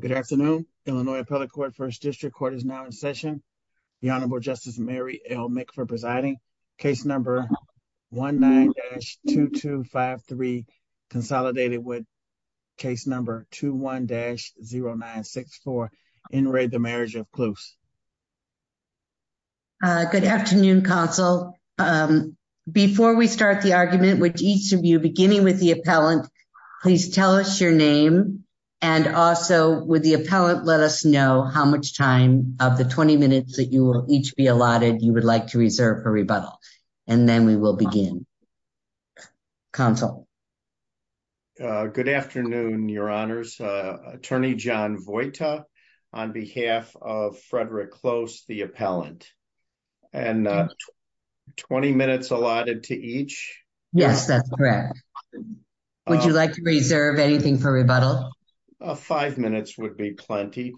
Good afternoon, Illinois appellate court 1st district court is now in session. The honorable justice Mary make for presiding case number. 1, 9 dash 2, 2, 5, 3 consolidated with. Case number 2, 1 dash 0, 9, 6, 4 in rate, the marriage of clues. Good afternoon console before we start the argument with each of you, beginning with the appellant. Please tell us your name and also with the appellate, let us know how much time of the 20 minutes that you will each be allotted. You would like to reserve for rebuttal and then we will begin. Console good afternoon. Your honors attorney John Voight on behalf of Frederick close the appellant. And 20 minutes allotted to each. Yes, that's correct. Would you like to reserve anything for rebuttal? 5 minutes would be plenty.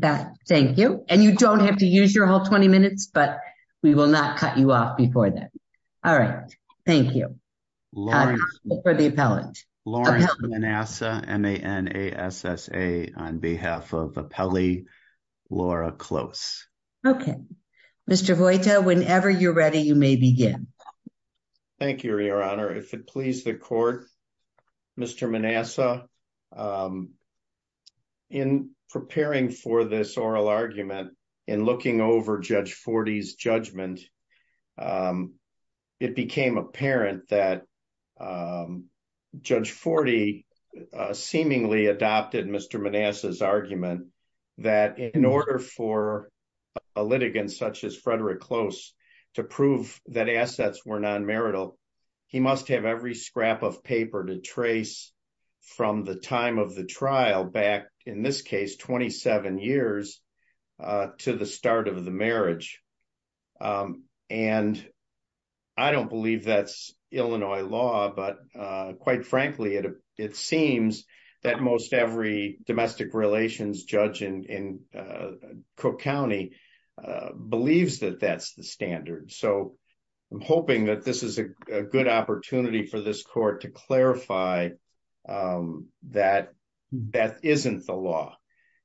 That Thank you and you don't have to use your whole 20 minutes, but we will not cut you off before that. All right. Thank you. For the appellate, Lauren NASA, and they, and a SSA on behalf of appellee. Laura close. Okay. Mr. Voight. Whenever you're ready, you may begin. Thank you, your honor. If it please the court, Mr. Manassa. In preparing for this oral argument in looking over judge 40's judgment. It became apparent that judge 40 seemingly adopted Mr. Manassa's argument that in order for. A litigant, such as Frederick close to prove that assets were non marital. He must have every scrap of paper to trace from the time of the trial back in this case, 27 years to the start of the marriage. And I don't believe that's Illinois law, but quite frankly, it seems that most every domestic relations judge in. Cook county believes that that's the standard. So I'm hoping that this is a good opportunity for this court to clarify. That that isn't the law.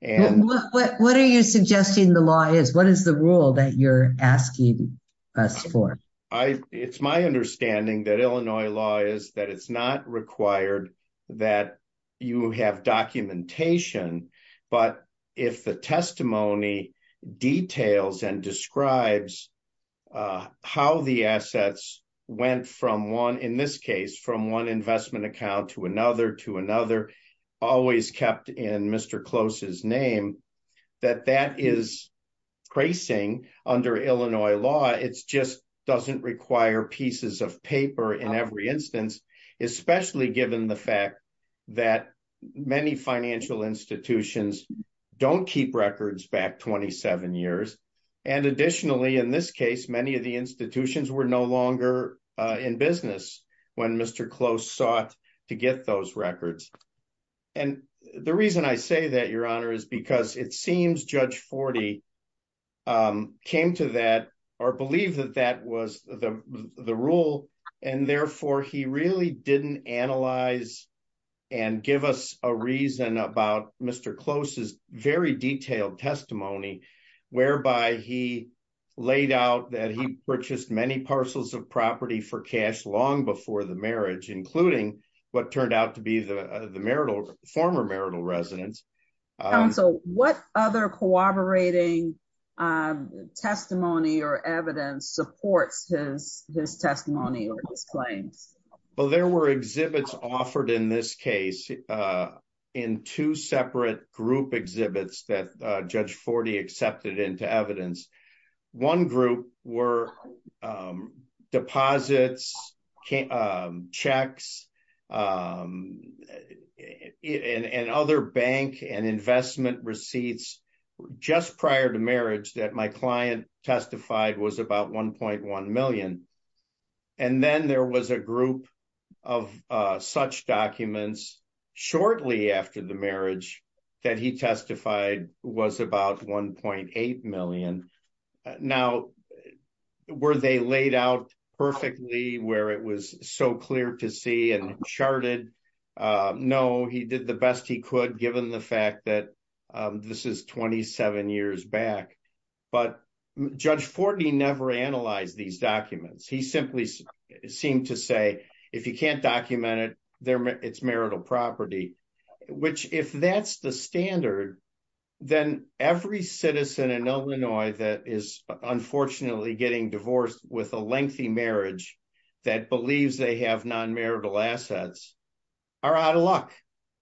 And what are you suggesting the law is what is the rule that you're asking us for. I, it's my understanding that Illinois law is that it's not required that you have documentation, but if the testimony details and describes. How the assets went from 1 in this case from 1 investment account to another to another always kept in Mr closest name. That that is tracing under Illinois law. It's just doesn't require pieces of paper in every instance, especially given the fact that many financial institutions don't keep records back 27 years. And additionally, in this case, many of the institutions were no longer in business when Mr close sought to get those records. And the reason I say that your honor is because it seems judge 40 Came to that or believe that that was the rule and therefore he really didn't analyze and give us a reason about Mr closest very detailed testimony. Whereby he laid out that he purchased many parcels of property for cash long before the marriage, including what turned out to be the marital former marital residence. What other cooperating Testimony or evidence supports his his testimony or his claims. Well, there were exhibits offered in this case in two separate group exhibits that judge 40 accepted into evidence one group were Deposits can checks. And other bank and investment receipts just prior to marriage that my client testified was about 1.1 million and then there was a group of such documents shortly after the marriage that he testified was about 1.8 million now were they laid out perfectly where it was so clear to see and charted know he did the best he could, given the fact that this is 27 years back, but judge 40 never analyze these documents. He simply Seem to say, if you can't document it there. It's marital property, which if that's the standard. Then every citizen in Illinois that is unfortunately getting divorced with a lengthy marriage that believes they have non marital assets. Are out of luck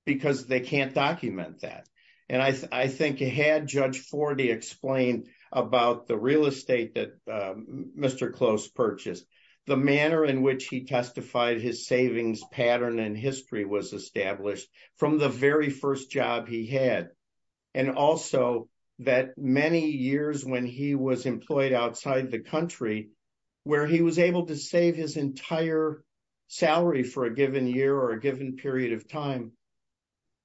because they can't document that. And I think you had judge for the explain about the real estate that Mr close purchase the manner in which he testified his savings pattern and history was established from the very first job he had And also that many years when he was employed outside the country where he was able to save his entire salary for a given year or a given period of time.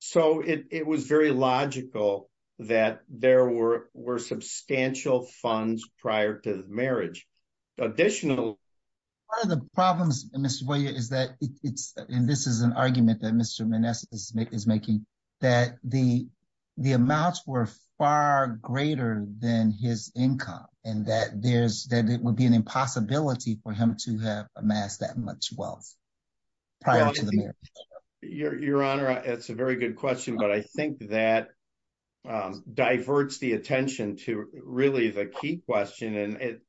So it was very logical that there were were substantial funds prior to the marriage additional Are the problems in this way is that it's in this is an argument that Mr Vanessa is making is making that the the amounts were far greater than his income and that there's that it would be an impossibility for him to have amassed that much wealth. Prior to the your, your honor. It's a very good question, but I think that diverts the attention to really the key question.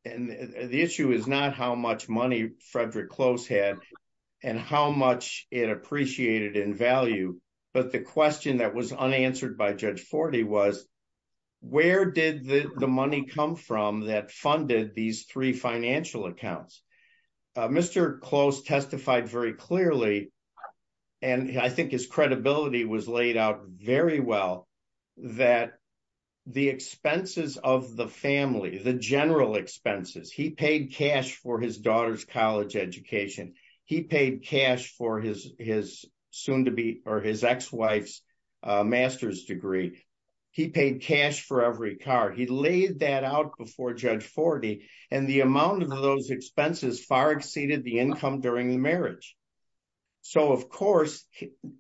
And the issue is not how much money Frederick close had And how much it appreciated in value. But the question that was unanswered by judge 40 was where did the money come from that funded these three financial accounts. Mr close testified very clearly and I think his credibility was laid out very well that The expenses of the family, the general expenses he paid cash for his daughter's college education. He paid cash for his, his soon to be or his ex wife's Master's degree. He paid cash for every car. He laid that out before judge 40 and the amount of those expenses far exceeded the income during the marriage. So, of course,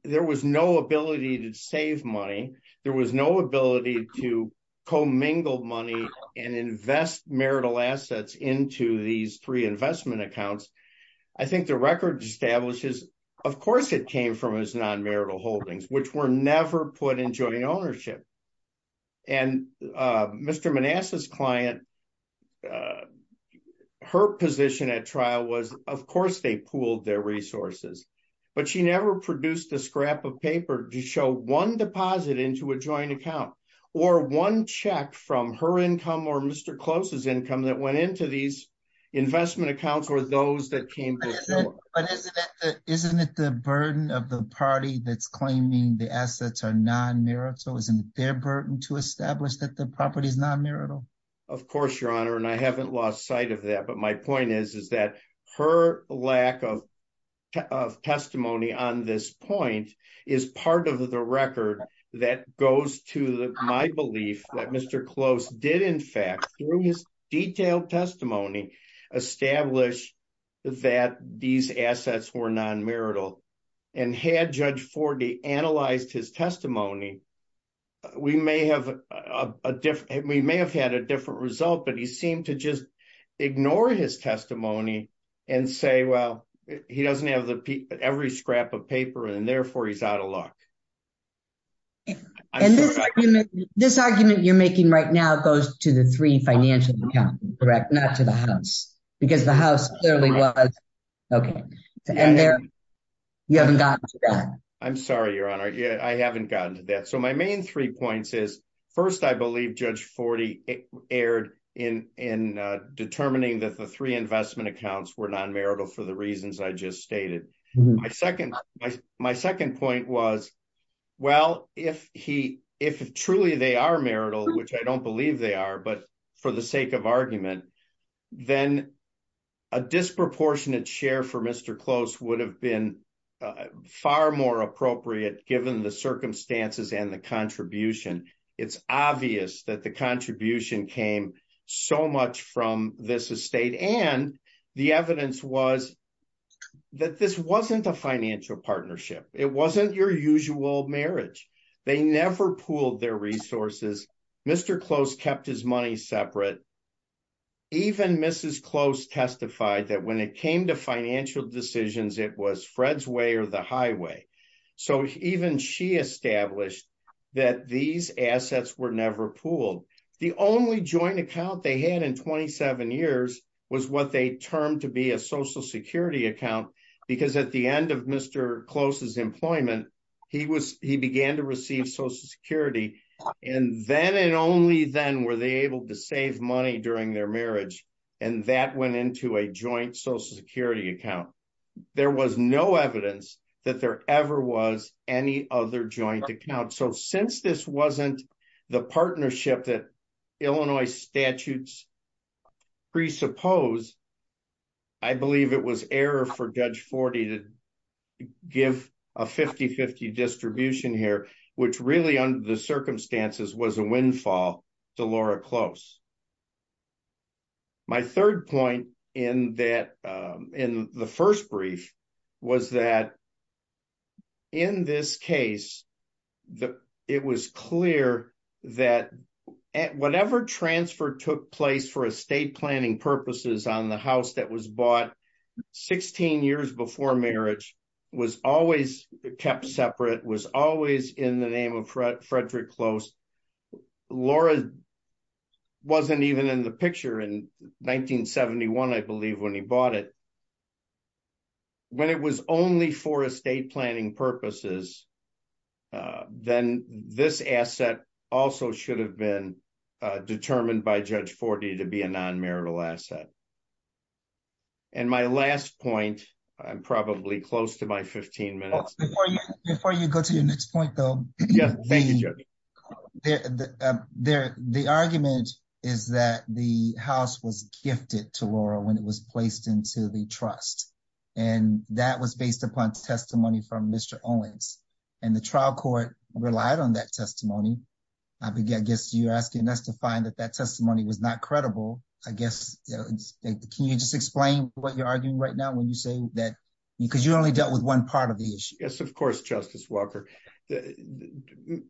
there was no ability to save money. There was no ability to co mingled money and invest marital assets into these three investment accounts. I think the record establishes, of course, it came from his non marital holdings, which were never put in joint ownership and Mr Manassas client. Her position at trial was, of course, they pulled their resources, but she never produced a scrap of paper to show one deposit into a joint account. Or one check from her income or Mr closest income that went into these investment accounts or those that came Isn't it the burden of the party that's claiming the assets are non marital isn't their burden to establish that the property is non marital Of course, Your Honor, and I haven't lost sight of that. But my point is, is that her lack of Testimony on this point is part of the record that goes to my belief that Mr close did in fact his detailed testimony establish That these assets were non marital and had judge for the analyzed his testimony, we may have a different we may have had a different result, but he seemed to just ignore his testimony and say, well, he doesn't have the every scrap of paper and therefore he's out of luck. And this, this argument you're making right now goes to the three financial correct not to the house because the house. Okay, and there you haven't got I'm sorry, Your Honor. Yeah, I haven't gotten to that. So my main three points is first, I believe, Judge 40 aired in in determining that the three investment accounts were non marital for the reasons I just stated. My second, my second point was, well, if he if truly they are marital, which I don't believe they are, but for the sake of argument, then A disproportionate share for Mr close would have been far more appropriate, given the circumstances and the contribution. It's obvious that the contribution came so much from this estate and the evidence was That this wasn't a financial partnership. It wasn't your usual marriage. They never pulled their resources. Mr close kept his money separate Even Mrs close testified that when it came to financial decisions. It was Fred's way or the highway. So even she established That these assets were never pooled the only joint account they had in 27 years was what they termed to be a social security account. Because at the end of Mr closest employment. He was he began to receive social security. And then, and only then, were they able to save money during their marriage and that went into a joint social security account. There was no evidence that there ever was any other joint account. So since this wasn't the partnership that Illinois statutes presuppose I believe it was error for judge 40 to give a 5050 distribution here, which really under the circumstances was a windfall to Laura close My third point in that in the first brief was that In this case that it was clear that at whatever transfer took place for a state planning purposes on the house that was bought 16 years before marriage was always kept separate was always in the name of Fred Frederick close Laura Wasn't even in the picture in 1971 I believe when he bought it. When it was only for a state planning purposes. Then this asset also should have been determined by judge 40 to be a non marital asset. And my last point I'm probably close to my 15 minutes before you before you go to your next point, though. Thank you. There. The argument is that the house was gifted to Laura when it was placed into the trust and that was based upon testimony from Mr Owens. And the trial court relied on that testimony. I guess you're asking us to find that that testimony was not credible, I guess. Can you just explain what you're arguing right now when you say that because you only dealt with one part of the issue. Yes, of course. Justice Walker.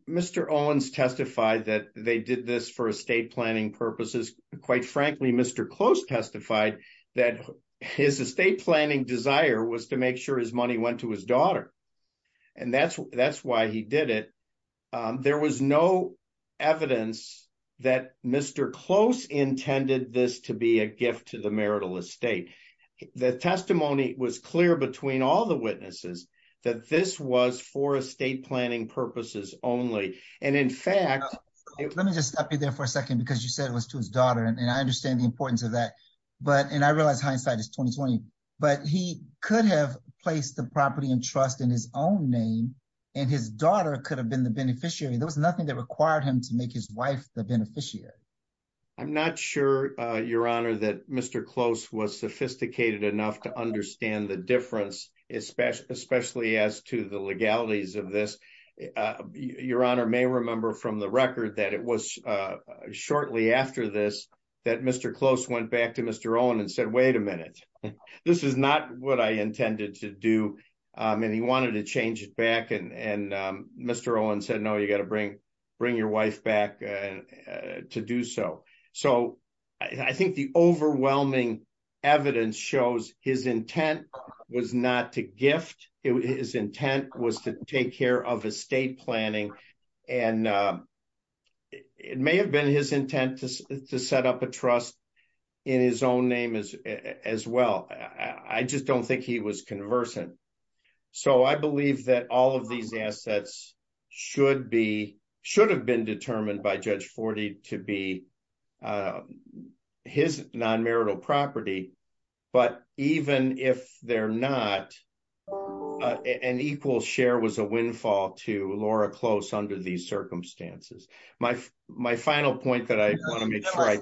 Mr Owens testified that they did this for a state planning purposes. Quite frankly, Mr close testified that his estate planning desire was to make sure his money went to his daughter. And that's, that's why he did it. There was no evidence that Mr close intended this to be a gift to the marital estate. The testimony was clear between all the witnesses that this was for a state planning purposes only. And in fact, Let me just stop you there for a second, because you said it was to his daughter and I understand the importance of that. But, and I realized hindsight is 2020 but he could have placed the property and trust in his own name and his daughter could have been the beneficiary. There was nothing that required him to make his wife, the beneficiary. I'm not sure your honor that Mr close was sophisticated enough to understand the difference, especially, especially as to the legalities of this Your honor may remember from the record that it was shortly after this that Mr close went back to Mr on and said, wait a minute. This is not what I intended to do. And he wanted to change it back and and Mr. Owen said, no, you got to bring, bring your wife back To do so. So I think the overwhelming evidence shows his intent was not to gift his intent was to take care of estate planning and It may have been his intent to set up a trust in his own name as as well. I just don't think he was conversant. So I believe that all of these assets should be should have been determined by Judge 40 to be His non marital property, but even if they're not An equal share was a windfall to Laura close under these circumstances, my, my final point that I want to make sure I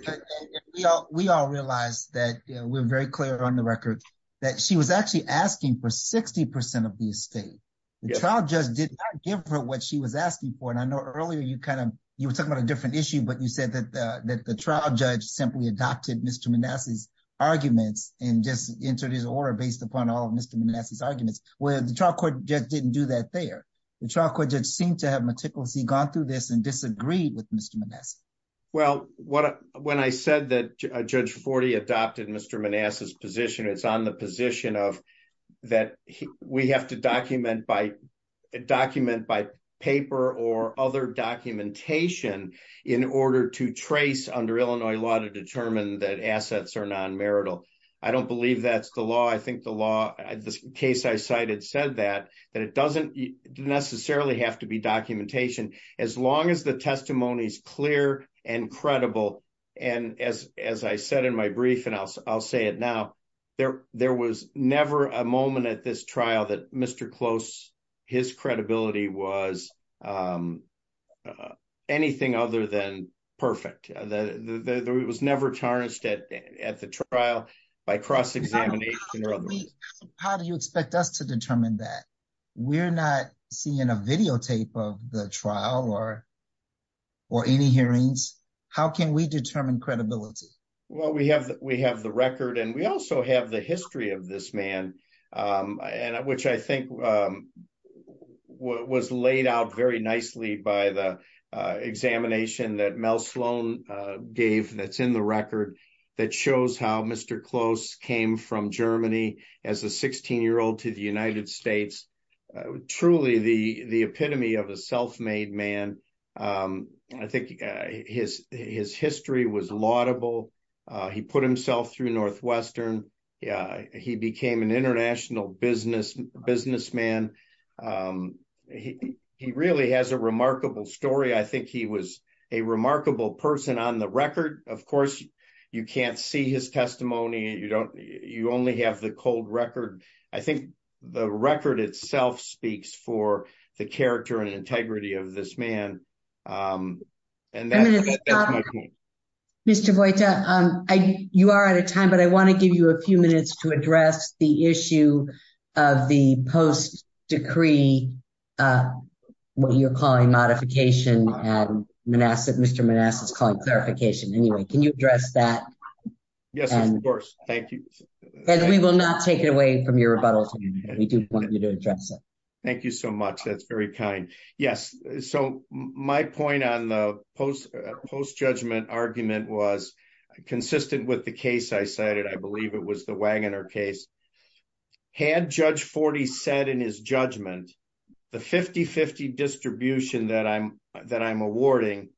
We all realize that we're very clear on the record that she was actually asking for 60% of the estate. The child just did give her what she was asking for. And I know earlier you kind of you were talking about a different issue, but you said that That the trial judge simply adopted Mr. Manassas arguments and just entered his order based upon all of Mr. Manassas arguments where the trial court just didn't do that there. The trial court judge seemed to have meticulous he gone through this and disagreed with Mr. Manassas Well, what when I said that Judge 40 adopted Mr. Manassas position. It's on the position of That we have to document by document by paper or other documentation in order to trace under Illinois law to determine that assets are non marital I don't believe that's the law. I think the law. I just case I cited said that that it doesn't necessarily have to be documentation as long as the testimony is clear and credible. And as, as I said in my brief and I'll, I'll say it. Now there, there was never a moment at this trial that Mr. Close his credibility was Anything other than perfect that it was never tarnished at at the trial by cross examination or other How do you expect us to determine that we're not seeing a videotape of the trial or or any hearings. How can we determine credibility. Well, we have that we have the record. And we also have the history of this man and which I think Was laid out very nicely by the examination that Mel Sloan gave that's in the record that shows how Mr. Close came from Germany as a 16 year old to the United States truly the the epitome of a self made man. I think his, his history was laudable he put himself through Northwestern. Yeah, he became an international business businessman. He, he really has a remarkable story. I think he was a remarkable person on the record. Of course, you can't see his testimony. You don't, you only have the cold record. I think the record itself speaks for the character and integrity of this man. And that Mr. Boyd, you are out of time, but I want to give you a few minutes to address the issue of the post decree. What you're calling modification and Manassas, Mr. Manassas clarification. Anyway, can you address that. Yes, of course. Thank you. We will not take it away from your rebuttal. We do want you to address it. Thank you so much. That's very kind. Yes. So my point on the post post judgment argument was consistent with the case I cited, I believe it was the Wagner case. Had judge 40 said in his judgment, the 5050 distribution that I'm that I'm awarding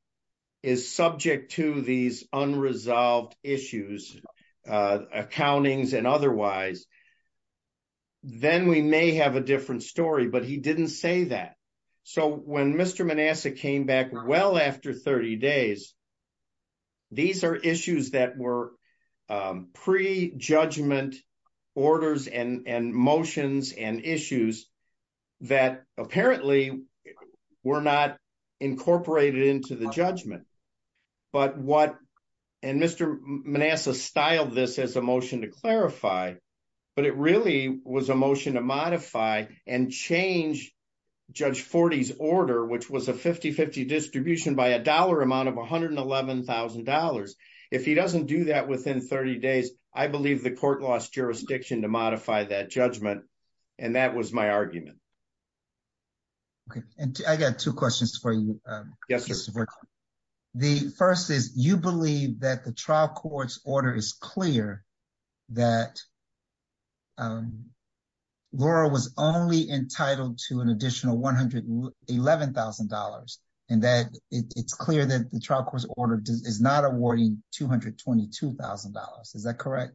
is subject to these unresolved issues, accountings and otherwise. Then we may have a different story, but he didn't say that. So when Mr. Manassas came back well after 30 days These are issues that were pre judgment orders and motions and issues that apparently were not incorporated into the judgment. But what and Mr. Manassas styled this as a motion to clarify, but it really was a motion to modify and change judge 40s order, which was a 5050 distribution by a dollar amount of $111,000 if he doesn't do that within 30 days, I believe the court lost jurisdiction to modify that judgment. And that was my argument. Okay. And I got 2 questions for you. Yes. The 1st is you believe that the trial court's order is clear that. Laura was only entitled to an additional $111,000 and that it's clear that the trial court's order is not awarding $222,000. Is that correct?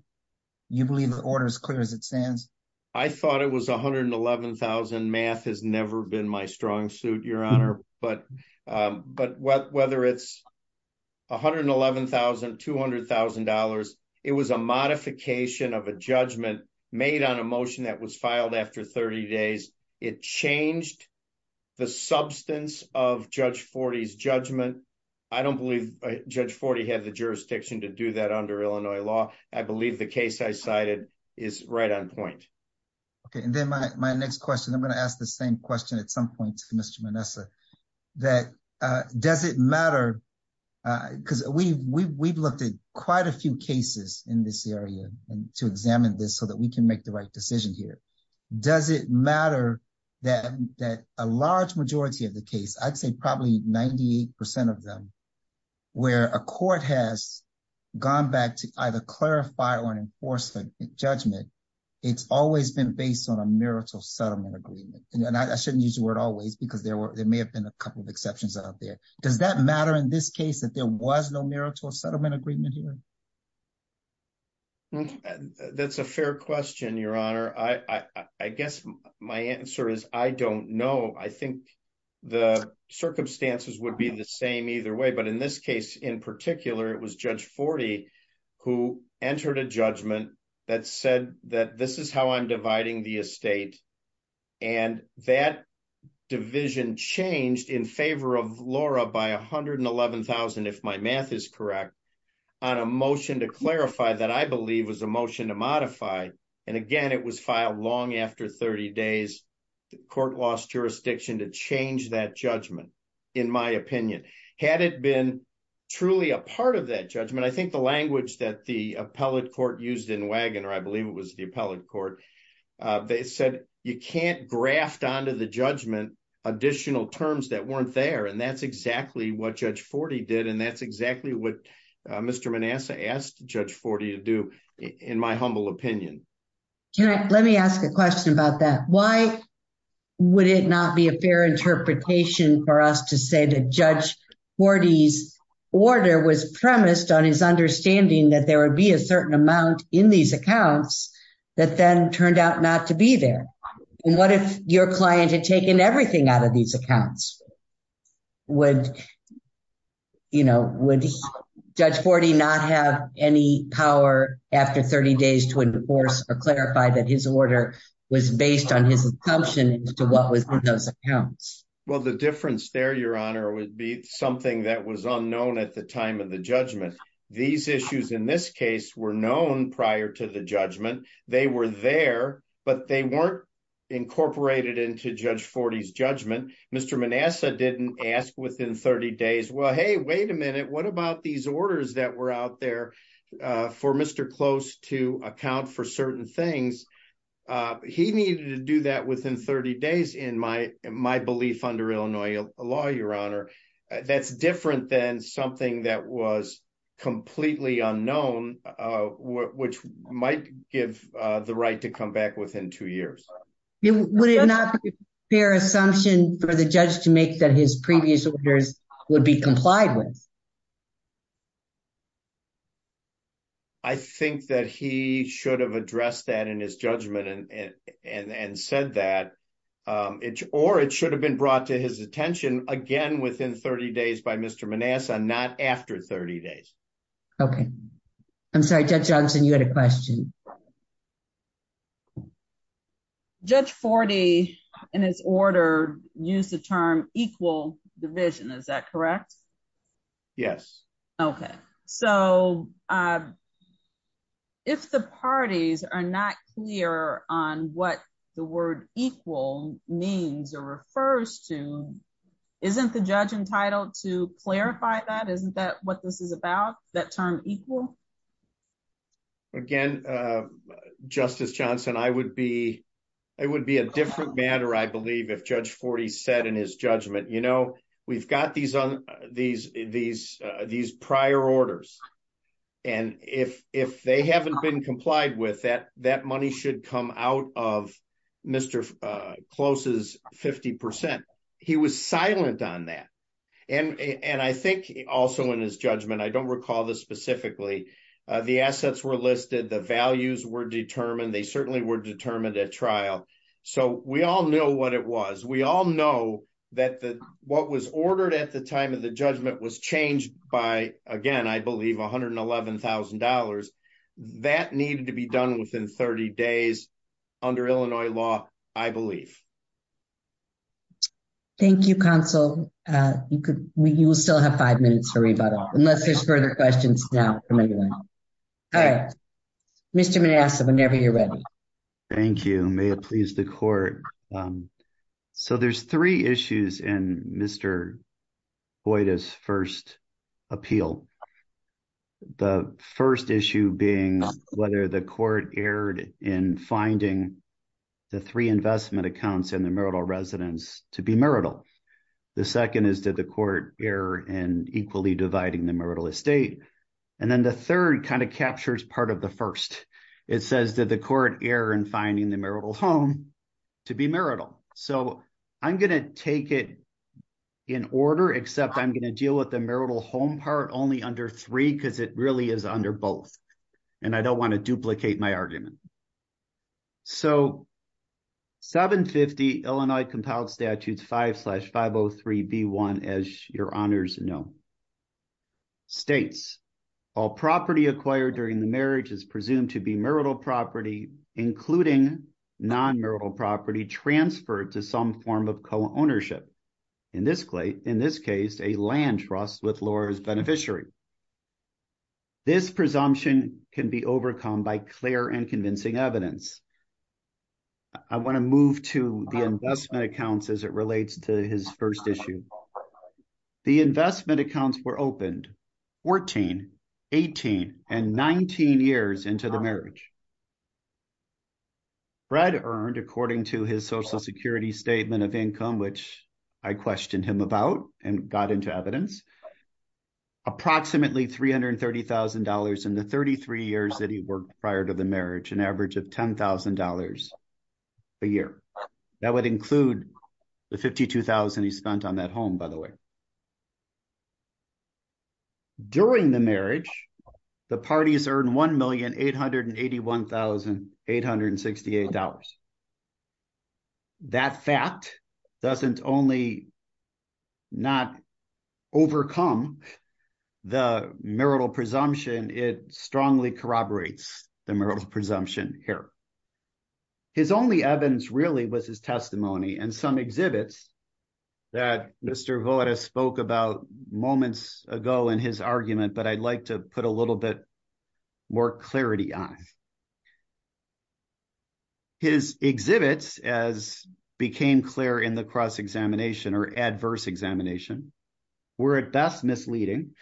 You believe the order as clear as it stands. I thought it was 111,000 math has never been my strong suit. Your honor, but but whether it's. $111,200,000, it was a modification of a judgment made on a motion that was filed after 30 days. It changed. The substance of judge 40s judgment. I don't believe judge 40 have the jurisdiction to do that under Illinois law. I believe the case I cited is right on point. Okay, and then my next question, I'm going to ask the same question at some point to Mr Vanessa. That does it matter because we've, we've, we've looked at quite a few cases in this area and to examine this so that we can make the right decision here. Does it matter that that a large majority of the case, I'd say probably 98% of them. Where a court has gone back to either clarify or enforcement judgment. It's always been based on a marital settlement agreement, and I shouldn't use the word always because there were, there may have been a couple of exceptions out there. Does that matter in this case that there was no marital settlement agreement here? That's a fair question. Your honor. I, I guess my answer is, I don't know. I think. The circumstances would be the same either way, but in this case, in particular, it was judge 40. Who entered a judgment that said that this is how I'm dividing the estate. And that division changed in favor of Laura by 111,000, if my math is correct. On a motion to clarify that I believe was a motion to modify. And again, it was filed long after 30 days. The court lost jurisdiction to change that judgment. In my opinion, had it been truly a part of that judgment, I think the language that the appellate court used in wagon, or I believe it was the appellate court. They said, you can't graft onto the judgment additional terms that weren't there. And that's exactly what judge 40 did. And that's exactly what Mr. asked judge 40 to do in my humble opinion. Can I, let me ask a question about that. Why would it not be a fair interpretation for us to say that judge 40s order was premised on his understanding that there would be a certain amount in these accounts that then turned out not to be there. And what if your client had taken everything out of these accounts? Would, you know, would judge 40 not have any power after 30 days to enforce or clarify that his order was based on his assumption to what was in those accounts? Well, the difference there, your honor, would be something that was unknown at the time of the judgment. These issues in this case were known prior to the judgment. They were there, but they weren't incorporated into judge 40s judgment. Mr. Manassa didn't ask within 30 days. Well, hey, wait a minute. What about these orders that were out there for Mr. Close to account for certain things? He needed to do that within 30 days in my belief under Illinois law, your honor. That's different than something that was completely unknown, which might give the right to come back within two years. Would it not be a fair assumption for the judge to make that his previous orders would be complied with? I think that he should have addressed that in his judgment and said that. Or it should have been brought to his attention again within 30 days by Mr. Manassa, not after 30 days. Okay, I'm sorry, Judge Johnson, you had a question. Judge 40 in his order used the term equal division. Is that correct? Yes. Okay, so if the parties are not clear on what the word equal means or refers to, isn't the judge entitled to clarify that? Isn't that what this is about, that term equal? Again, Justice Johnson, it would be a different matter, I believe, if Judge 40 said in his judgment, you know, we've got these prior orders. And if they haven't been complied with that, that money should come out of Mr. Close's 50%. He was silent on that. And I think also in his judgment, I don't recall this specifically, the assets were listed, the values were determined, they certainly were determined at trial. So we all know what it was. We all know that what was ordered at the time of the judgment was changed by, again, I believe, $111,000. That needed to be done within 30 days under Illinois law, I believe. Thank you, counsel. You could, you will still have five minutes for rebuttal, unless there's further questions now from anyone. All right, Mr. Manasseh, whenever you're ready. Thank you. May it please the court. So there's three issues in Mr. Boyda's first appeal. The first issue being whether the court erred in finding the three investment accounts in the marital residence to be marital. The second is that the court error in equally dividing the marital estate. And then the third kind of captures part of the first. It says that the court error in finding the marital home to be marital. So I'm going to take it in order, except I'm going to deal with the marital home part only under three, because it really is under both. And I don't want to duplicate my argument. So, 750 Illinois compiled statutes 5 slash 503B1, as your honors know, states, all property acquired during the marriage is presumed to be marital property, including non-marital property transferred to some form of co-ownership. In this case, a land trust with Laura's beneficiary. This presumption can be overcome by clear and convincing evidence. I want to move to the investment accounts as it relates to his first issue. The investment accounts were opened 14, 18, and 19 years into the marriage. Fred earned, according to his social security statement of income, which I questioned him about and got into evidence, approximately $330,000 in the 33 years that he worked prior to the marriage, an average of $10,000 a year. That would include the $52,000 he spent on that home, by the way. During the marriage, the parties earned $1,881,868. That fact doesn't only not overcome the marital presumption, it strongly corroborates the marital presumption here. His only evidence really was his testimony and some exhibits that Mr. Voed has spoke about moments ago in his argument, but I'd like to put a little bit more clarity on. His exhibits, as became clear in the cross-examination or adverse examination, were at best misleading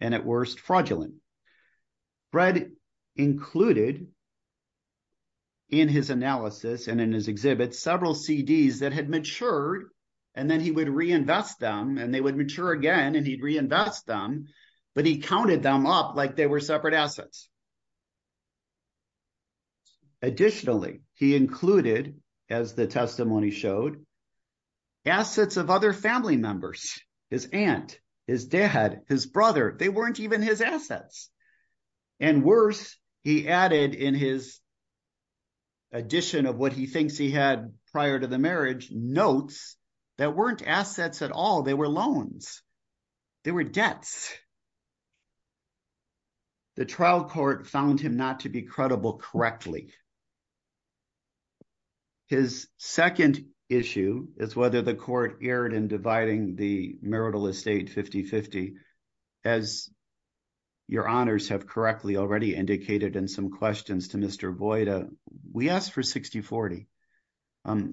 and at worst fraudulent. Fred included in his analysis and in his exhibit several CDs that had matured, and then he would reinvest them, and they would mature again, and he'd reinvest them, but he counted them up like they were separate assets. Additionally, he included, as the testimony showed, assets of other family members, his aunt, his dad, his brother, they weren't even his assets. And worse, he added in his addition of what he thinks he had prior to the marriage, notes that weren't assets at all, they were loans, they were debts. The trial court found him not to be credible correctly. His second issue is whether the court erred in dividing the marital estate 50-50. As your honors have correctly already indicated in some questions to Mr. Voed, we asked for 60-40.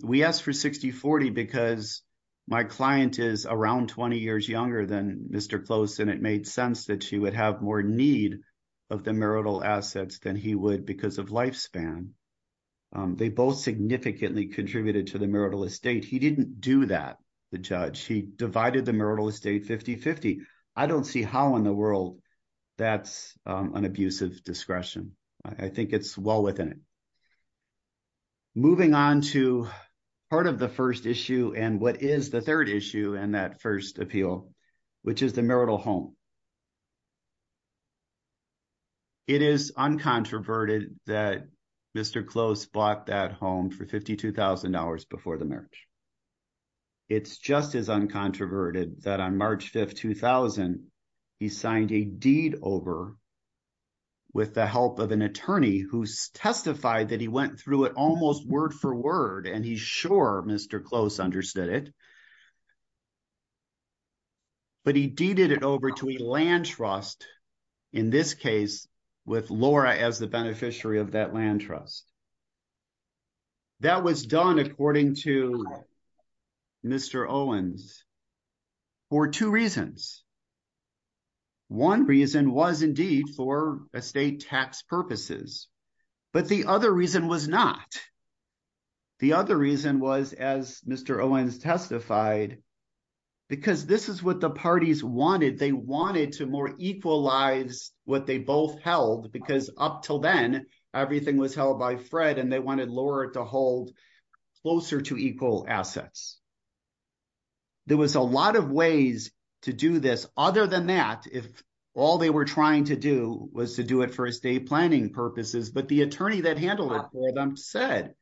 We asked for 60-40 because my client is around 20 years younger than Mr. Close, and it made sense that she would have more need of the marital assets than he would because of lifespan. They both significantly contributed to the marital estate. He didn't do that, the judge. He divided the marital estate 50-50. I don't see how in the world that's an abuse of discretion. I think it's well within it. Moving on to part of the first issue and what is the third issue in that first appeal, which is the marital home. It is uncontroverted that Mr. Close bought that home for $52,000 before the marriage. It's just as uncontroverted that on March 5, 2000, he signed a deed over with the help of an attorney who testified that he went through it almost word for word, and he's sure Mr. Close understood it. But he deeded it over to a land trust, in this case, with Laura as the beneficiary of that land trust. That was done, according to Mr. Owens, for two reasons. One reason was indeed for estate tax purposes, but the other reason was not. The other reason was, as Mr. Owens testified, because this is what the parties wanted. They wanted to more equalize what they both held because up till then, everything was held by Fred and they wanted Laura to hold closer to equal assets. There was a lot of ways to do this. Other than that, if all they were trying to do was to do it for estate planning purposes, but the attorney that handled it for them said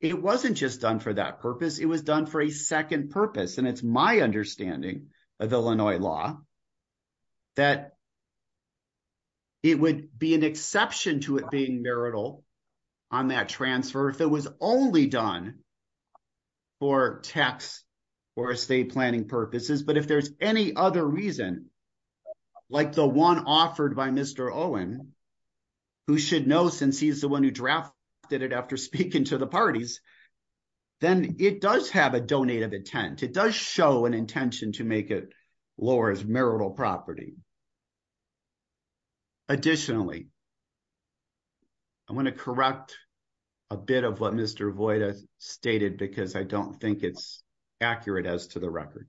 it wasn't just done for that purpose. It was done for a second purpose, and it's my understanding of Illinois law that it would be an exception to it being marital on that transfer if it was only done for tax or estate planning purposes. But if there's any other reason, like the one offered by Mr. Owens, who should know since he's the one who drafted it after speaking to the parties, then it does have a donated intent. It does show an intention to make it Laura's marital property. Additionally, I want to correct a bit of what Mr. Voida stated because I don't think it's accurate as to the record.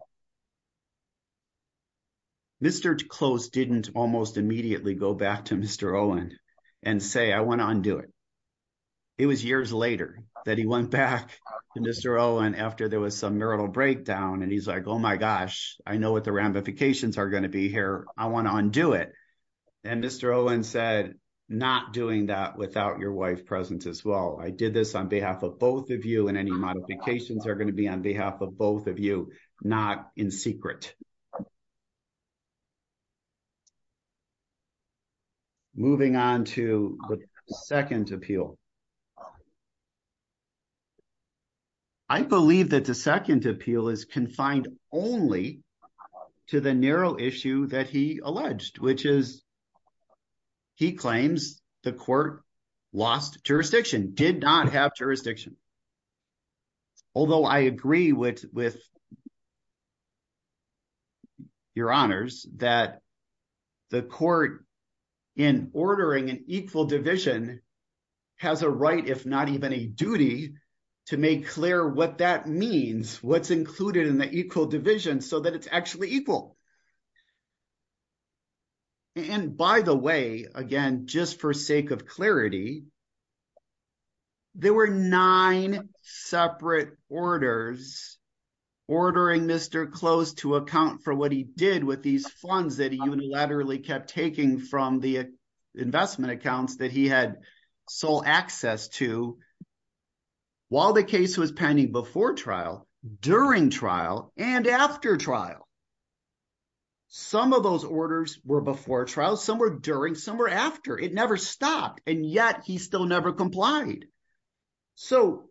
Mr. Close didn't almost immediately go back to Mr. Owens and say, I want to undo it. It was years later that he went back to Mr. Owens after there was some marital breakdown, and he's like, oh my gosh, I know what the ramifications are going to be here. I want to undo it. And Mr. Owens said, not doing that without your wife presence as well. I did this on behalf of both of you and any modifications are going to be on behalf of both of you, not in secret. Moving on to the second appeal. I believe that the second appeal is confined only to the narrow issue that he alleged, which is he claims the court lost jurisdiction, did not have jurisdiction. Although I agree with your honors that the court in ordering an equal division has a right, if not even a duty to make clear what that means, what's included in the equal division so that it's actually equal. And by the way, again, just for sake of clarity, there were nine separate orders ordering Mr. Close to account for what he did with these funds that he unilaterally kept taking from the investment accounts that he had sole access to while the case was pending before trial, during trial, and after trial. Some of those orders were before trial, some were during, some were after. It never stopped. And yet he still never complied. So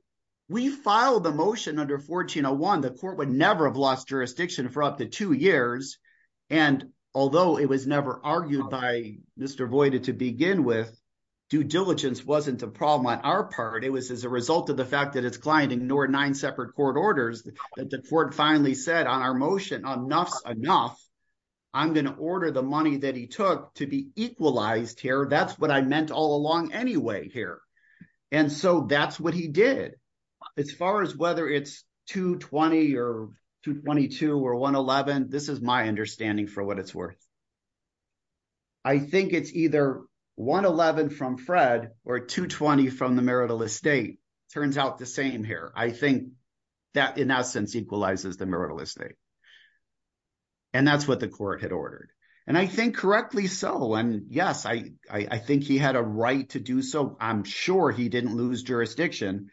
we filed the motion under 1401. The court would never have lost jurisdiction for up to two years. And although it was never argued by Mr. Voight to begin with, due diligence wasn't a problem on our part. It was as a result of the fact that its client ignored nine separate court orders that the enough, I'm going to order the money that he took to be equalized here. That's what I meant all along anyway here. And so that's what he did. As far as whether it's 220 or 222 or 111, this is my understanding for what it's worth. I think it's either 111 from Fred or 220 from the marital estate. Turns out the same here. I think that in essence equalizes the marital estate. And that's what the court had ordered. And I think correctly so. And yes, I think he had a right to do so. I'm sure he didn't lose jurisdiction.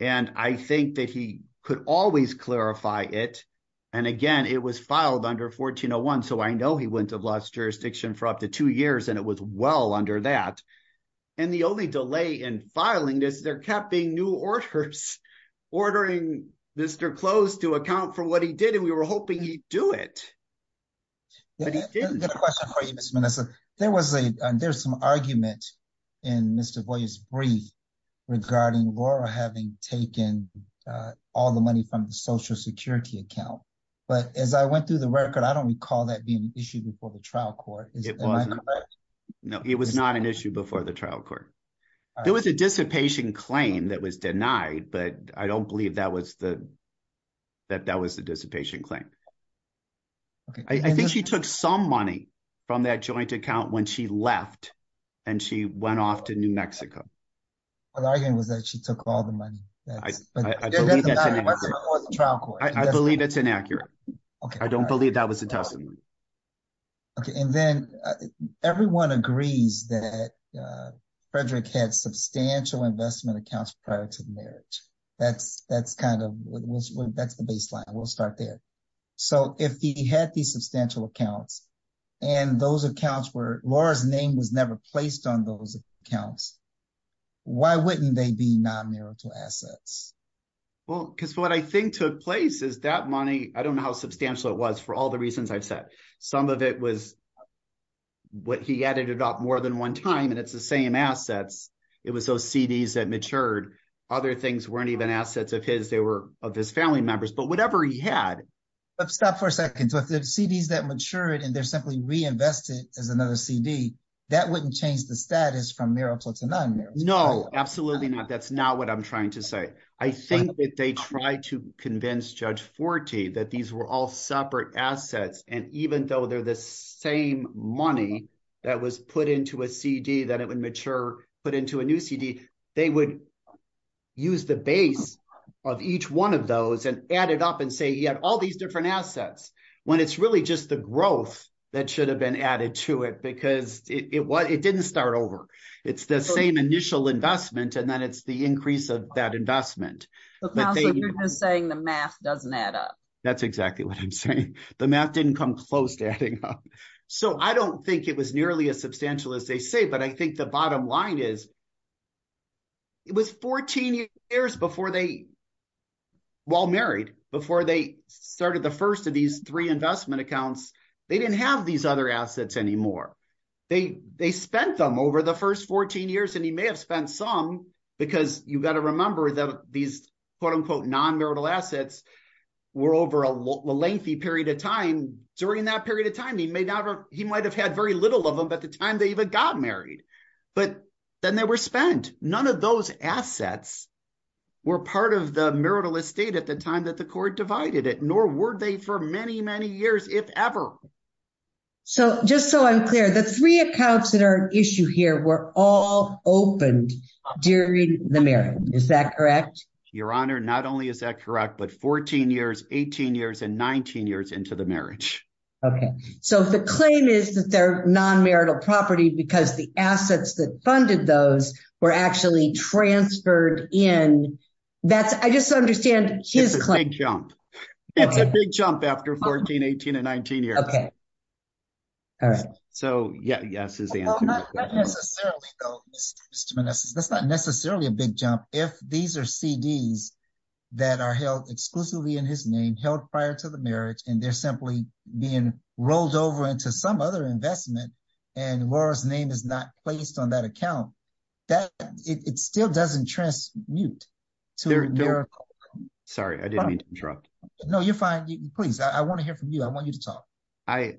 And I think that he could always clarify it. And again, it was filed under 1401. So I know he wouldn't have lost jurisdiction for up to two years. And it was well under that. And the only delay in filing this, there kept being new orders ordering Mr. Close to account for what he did. We were hoping he'd do it. But he didn't. I have a question for you, Ms. Menessa. There was a, there's some argument in Mr. Boyer's brief regarding Laura having taken all the money from the Social Security account. But as I went through the record, I don't recall that being an issue before the trial court. Is that correct? No, it was not an issue before the trial court. There was a dissipation claim that was denied. But I don't believe that was the, that that was the dissipation claim. I think she took some money from that joint account when she left. And she went off to New Mexico. But the argument was that she took all the money. I believe that's inaccurate. I don't believe that was a testimony. Okay. And then everyone agrees that Frederick had substantial investment accounts prior to the marriage. That's, that's kind of, that's the baseline. We'll start there. So, if he had these substantial accounts, and those accounts were, Laura's name was never placed on those accounts, why wouldn't they be non-marital assets? Well, because what I think took place is that money, I don't know how substantial it was for all the reasons I've said. Some of it was what he added it up more than one time, and it's the same assets. It was those CDs that matured. Other things weren't even assets of his. They were of his family members, but whatever he had. But stop for a second. So, if the CDs that matured, and they're simply reinvested as another CD, that wouldn't change the status from marital to non-marital. No, absolutely not. That's not what I'm trying to say. I think that they tried to convince Judge Forte that these were all separate assets. And even though they're the same money that was put into a CD, that it would mature, put into a new CD, they would use the base of each one of those and add it up and say he had all these different assets, when it's really just the growth that should have been added to it, because it didn't start over. It's the same initial investment, and then it's the increase of that investment. But you're just saying the math doesn't add up. That's exactly what I'm saying. The math didn't come close to adding up. So, I don't think it was nearly as substantial as they say, but I think the bottom line is, it was 14 years before they, while married, before they started the first of these three investment accounts, they didn't have these other assets anymore. They spent them over the first 14 years, and he may have spent some, because you've got to remember that these quote unquote non-marital assets were over a lengthy period of time. During that period of time, he may not have, he might have had very little of them at the time they even got married, but then they were spent. None of those assets were part of the marital estate at the time that the court divided it, nor were they for many, many years, if ever. So, just so I'm clear, the three accounts that are an issue here were all opened during the marriage, is that correct? Your Honor, not only is that correct, but 14 years, 18 years, and 19 years into the marriage. Okay. So, if the claim is that they're non-marital property because the assets that funded those were actually transferred in, that's, I just understand his claim. It's a big jump. It's a big jump after 14, 18, and 19 years. Okay. All right. So, yeah, yes is the answer. Well, not necessarily though, Mr. Manessis, that's not necessarily a big jump. If these are CDs that are held exclusively in his name, held prior to the marriage, and they're simply being rolled over into some other investment, and Laura's name is not placed on that account, that, it still doesn't transmute to a miracle. Sorry, I didn't mean to interrupt. No, you're fine. Please, I want to hear from you. I want you to talk. I,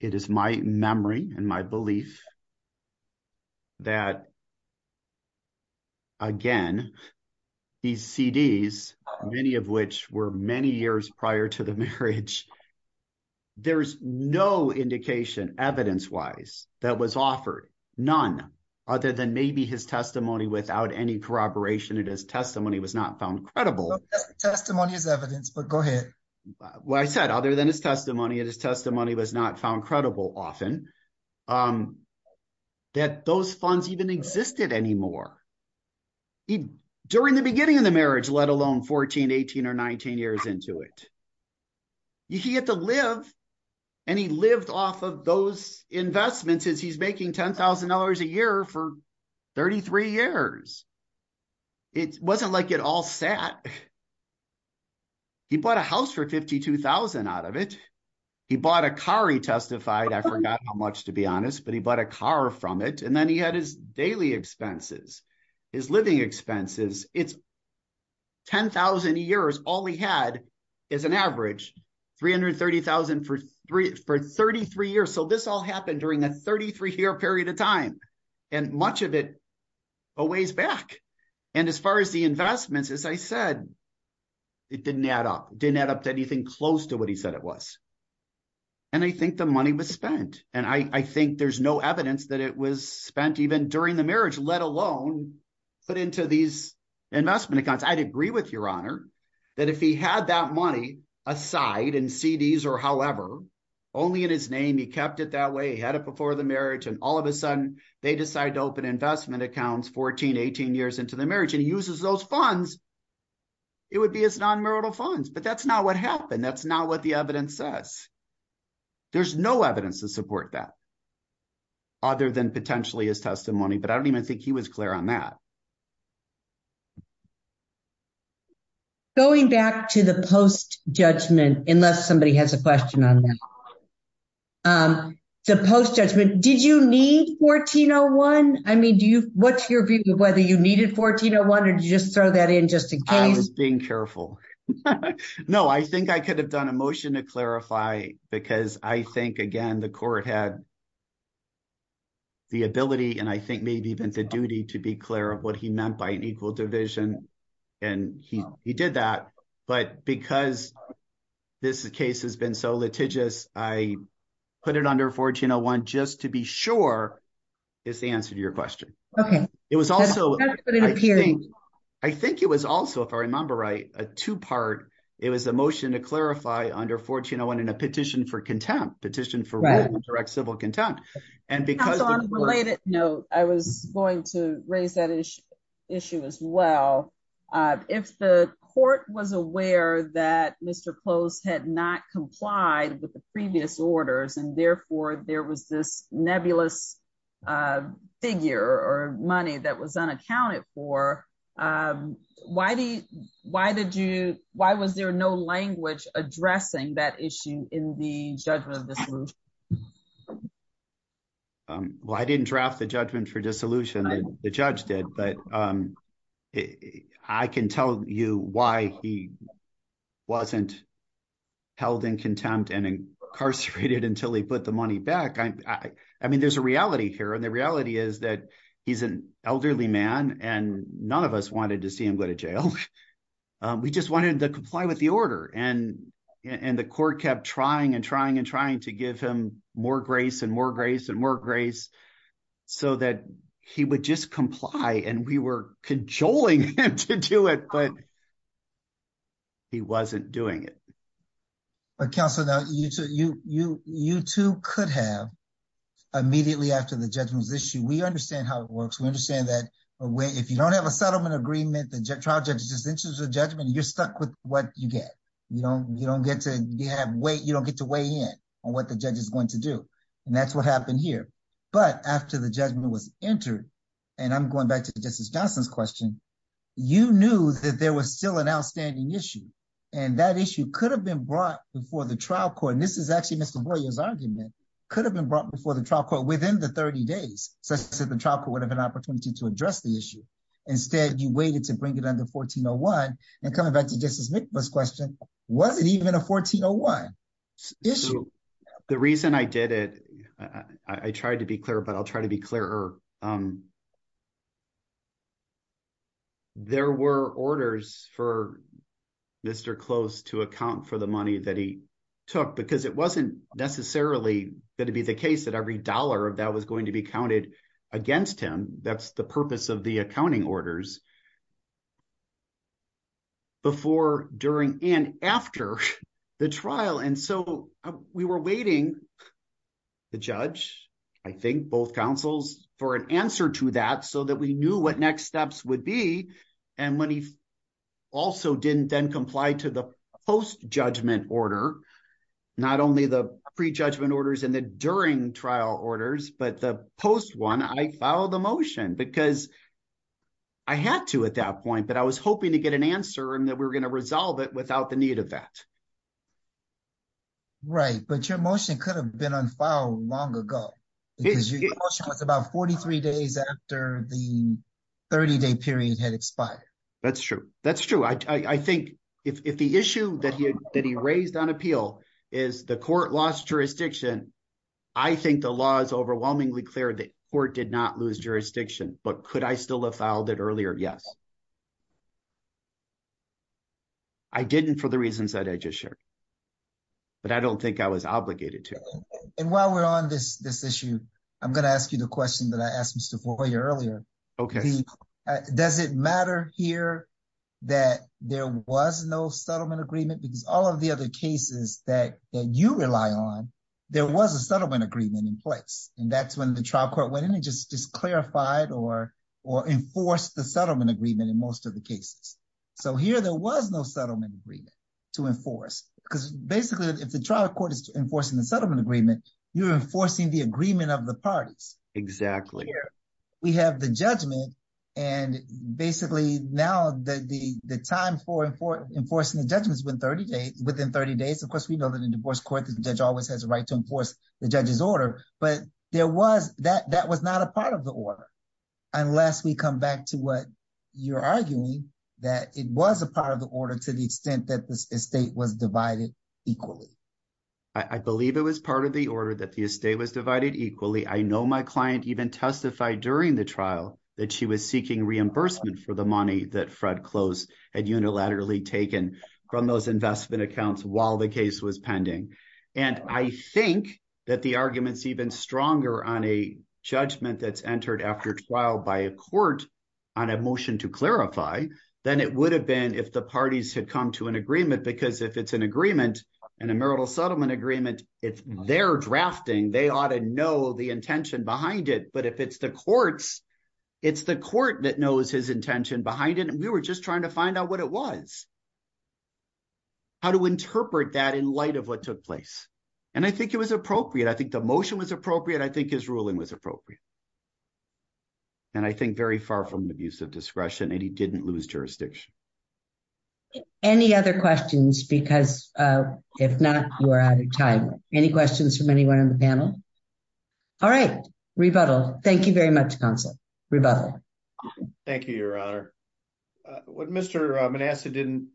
it is my memory and my belief that, again, these CDs, many of which were many years prior to the marriage, there's no indication, evidence-wise, that was offered. None. Other than maybe his testimony without any corroboration in his testimony was not found credible. Testimony is evidence, but go ahead. Well, I said, other than his testimony, and his testimony was not found credible often, that those funds even existed anymore. During the beginning of the marriage, let alone 14, 18, or 19 years into it, he had to live, and he lived off of those investments as he's making $10,000 a year for 33 years. It wasn't like it all sat. He bought a house for $52,000 out of it. He bought a car, he testified. I forgot how much, to be honest, but he bought a car from it. And then he had his daily expenses, his living expenses. It's 10,000 years. All he had is an average $330,000 for 33 years. So this all happened during a 33-year period of time. Much of it, a ways back. As far as the investments, as I said, it didn't add up. It didn't add up to anything close to what he said it was. I think the money was spent. And I think there's no evidence that it was spent even during the marriage, let alone put into these investment accounts. I'd agree with your honor that if he had that money aside in CDs or however, only in his name, he kept it that way. He had it before the marriage. And all of a sudden, they decide to open investment accounts 14, 18 years into the marriage. And he uses those funds. It would be his non-marital funds. But that's not what happened. That's not what the evidence says. There's no evidence to support that other than potentially his testimony. But I don't even think he was clear on that. Going back to the post-judgment, unless somebody has a question on that. The post-judgment, did you need 1401? I mean, what's your view of whether you needed 1401 or did you just throw that in just in case? I was being careful. No, I think I could have done a motion to clarify because I think, again, the court had the ability and I think maybe even the duty to be clear of what he meant by an equal division. And he did that. But because this case has been so litigious, I put it under 1401 just to be sure is the answer to your question. I think it was also, if I remember right, a two-part. It was a motion to clarify under 1401 and a petition for contempt, petition for direct civil contempt. And because on a related note, I was going to raise that issue as well. If the court was aware that Mr. Close had not complied with the previous orders, and therefore there was this nebulous figure or money that was unaccounted for, why was there no language addressing that issue in the judgment of this group? Well, I didn't draft the judgment for dissolution. The judge did. But I can tell you why he wasn't held in contempt and incarcerated until he put the money back. I mean, there's a reality here. And the reality is that he's an elderly man and none of us wanted to see him go to jail. We just wanted to comply with the order. And the court kept trying and trying and trying to give him more grace and more grace and more compliance. And we were cajoling him to do it. But he wasn't doing it. Counselor, you too could have immediately after the judgment was issued. We understand how it works. We understand that if you don't have a settlement agreement, the trial judge just issues a judgment, you're stuck with what you get. You don't get to weigh in on what the judge is going to do. And that's what happened here. But after the judgment was entered, and I'm going back to Justice Johnson's question, you knew that there was still an outstanding issue. And that issue could have been brought before the trial court. And this is actually Mr. Boyer's argument. Could have been brought before the trial court within the 30 days, such that the trial court would have an opportunity to address the issue. Instead, you waited to bring it under 1401. And coming back to Justice McBeth's question, was it even a 1401 issue? The reason I did it, I tried to be clear, but I'll try to be clearer. There were orders for Mr. Close to account for the money that he took, because it wasn't necessarily going to be the case that every dollar of that was going to be counted against him. That's the purpose of the accounting orders. Before, during, and after the trial. And so we were waiting, the judge, I think, both counsels, for an answer to that, so that we knew what next steps would be. And when he also didn't then comply to the post-judgment order, not only the pre-judgment orders and the during trial orders, but the post one, I filed a motion. Because I had to at that point, but I was hoping to get an answer, and that we were going to resolve it without the need of that. Right, but your motion could have been on file long ago. Because your motion was about 43 days after the 30-day period had expired. That's true. That's true. I think if the issue that he raised on appeal is the court lost jurisdiction, I think the law is overwhelmingly clear that the court did not lose jurisdiction. But could I still have filed it earlier? Yes. I didn't for the reasons that I just shared. But I don't think I was obligated to. And while we're on this issue, I'm going to ask you the question that I asked Mr. Foyer earlier. Does it matter here that there was no settlement agreement? Because all of the other cases that you rely on, there was a settlement agreement in place. And that's when the trial court went in and just clarified or enforced the settlement agreement in most of the cases. So here there was no settlement agreement to enforce. Because basically, if the trial court is enforcing the settlement agreement, you're enforcing the agreement of the parties. Exactly. We have the judgment. And basically, now the time for enforcing the judgment is within 30 days. Of course, we know that in a divorce court, the judge always has a right to enforce the judge's order. But that was not a part of the order. Unless we come back to what you're arguing, that it was a part of the order to the extent that the estate was divided equally. I believe it was part of the order that the estate was divided equally. I know my client even testified during the trial that she was seeking reimbursement for the money that Fred Close had unilaterally taken from those investment accounts while the case was pending. And I think that the argument's even stronger on a judgment that's entered after trial by a court on a motion to clarify than it would have been if the parties had come to an agreement. Because if it's an agreement, in a marital settlement agreement, if they're drafting, they ought to know the intention behind it. But if it's the courts, it's the court that knows his intention behind it. And we were just trying to find out what it was. How to interpret that in light of what took place. And I think it was appropriate. I think the motion was appropriate. I think his ruling was appropriate. And I think very far from the abuse of discretion. And he didn't lose jurisdiction. Any other questions? Because if not, you are out of time. Any questions from anyone on the panel? All right. Rebuttal. Thank you very much, Counsel. Rebuttal. Thank you, Your Honor. What Mr. Manasseh didn't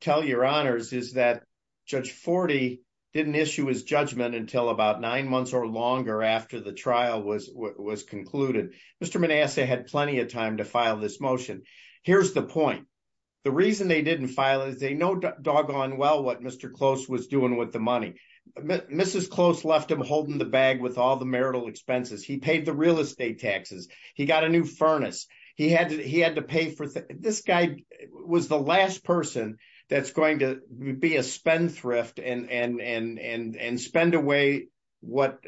tell Your Honors is that Judge Forte didn't issue his judgment until about nine months or longer after the trial was concluded. Mr. Manasseh had plenty of time to file this motion. Here's the point. The reason they didn't file it is they know doggone well what Mr. Close was doing with the money. Mrs. Close left him holding the bag with all the marital expenses. He paid the real estate taxes. He got a new furnace. He had to pay for the... This guy was the last person that's going to be a spendthrift and spend away what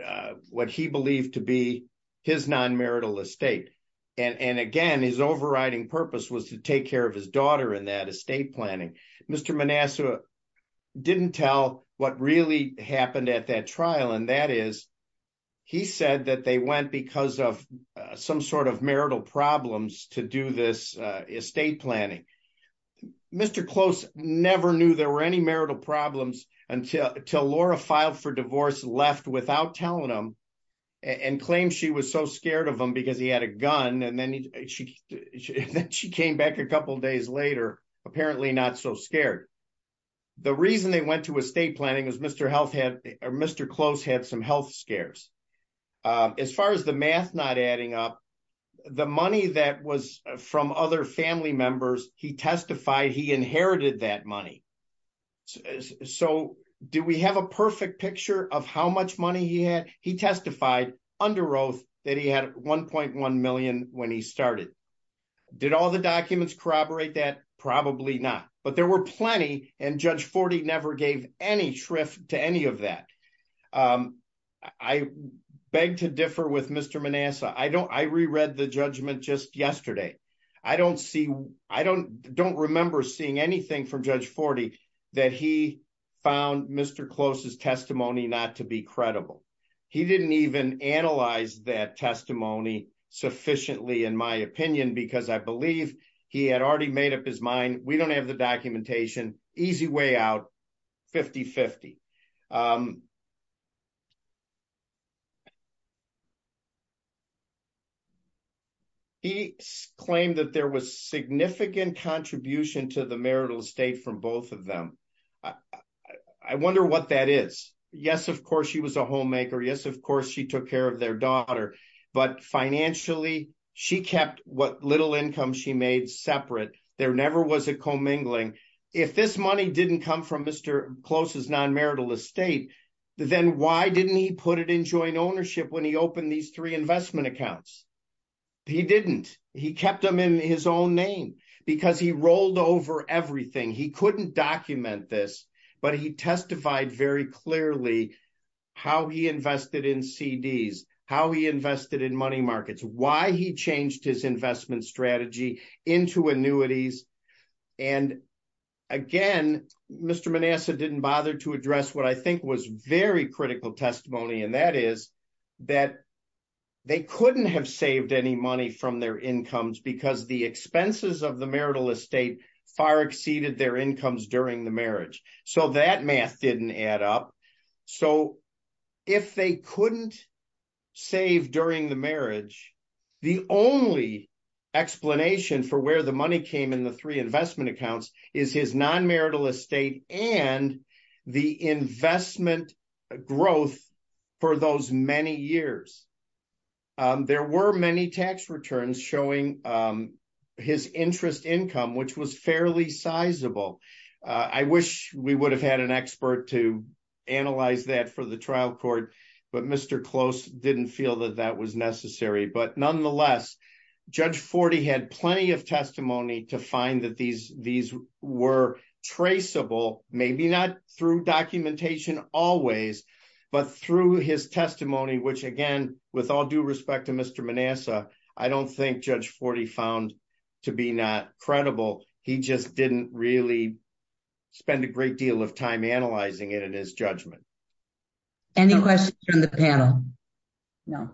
he believed to be his non-marital estate. And again, his overriding purpose was to take care of his daughter in that estate planning. Mr. Manasseh didn't tell what really happened at that trial, and that is he said that they went because of some sort of marital problems to do this estate planning. Mr. Close never knew there were any marital problems until Laura filed for divorce, left without telling him, and claimed she was so scared of him because he had a gun. And then she came back a couple of days later, apparently not so scared. The reason they went to estate planning was Mr. Health had... Mr. Close had some health scares. As far as the math not adding up, the money that was from other family members, he testified he inherited that money. So do we have a perfect picture of how much money he had? He testified under oath that he had 1.1 million when he started. Did all the documents corroborate that? Probably not. But there were plenty, and Judge Forty never gave any shrift to any of that. I beg to differ with Mr. Manasseh. I reread the judgment just yesterday. I don't remember seeing anything from Judge Forty that he found Mr. Close's testimony not to be credible. He didn't even analyze that testimony sufficiently, in my opinion, because I believe he had already made up his mind, we don't have the documentation, easy way out, 50-50. He claimed that there was significant contribution to the marital estate from both of them. I wonder what that is. Yes, of course, she was a homemaker. Yes, of course, she took care of their daughter. But financially, she kept what little income she made separate. There never was a commingling. If this money didn't come from Mr. Close's non-marital estate, then why didn't he put it in joint ownership when he opened these three investment accounts? He didn't. He kept them in his own name because he rolled over everything. He couldn't document this, but he testified very clearly how he invested in CDs, how he invested in money markets, why he changed his investment strategy into annuities. And again, Mr. Manasseh didn't bother to address what I think was very critical testimony, and that is that they couldn't have saved any money from their incomes because the expenses of the marital estate far exceeded their incomes during the marriage. So that math didn't add up. So if they couldn't save during the marriage, the only explanation for where the money came in the three investment accounts is his non-marital estate and the investment growth for those many years. There were many tax returns showing his interest income, which was fairly sizable. I wish we would have had an expert to analyze that for the trial court, but Mr. Close didn't feel that that was necessary. But nonetheless, Judge Forte had plenty of testimony to find that these were traceable, maybe not through documentation always, but through his testimony, which again, with all due respect to Mr. Manasseh, I don't think Judge Forte found to be not credible. He just didn't really spend a great deal of time analyzing it in his judgment. Any questions from the panel? No.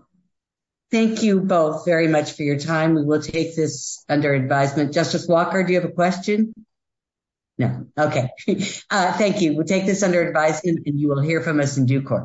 Thank you both very much for your time. We will take this under advisement. Justice Walker, do you have a question? No. Okay. Thank you. We'll take this under advice and you will hear from us in due course.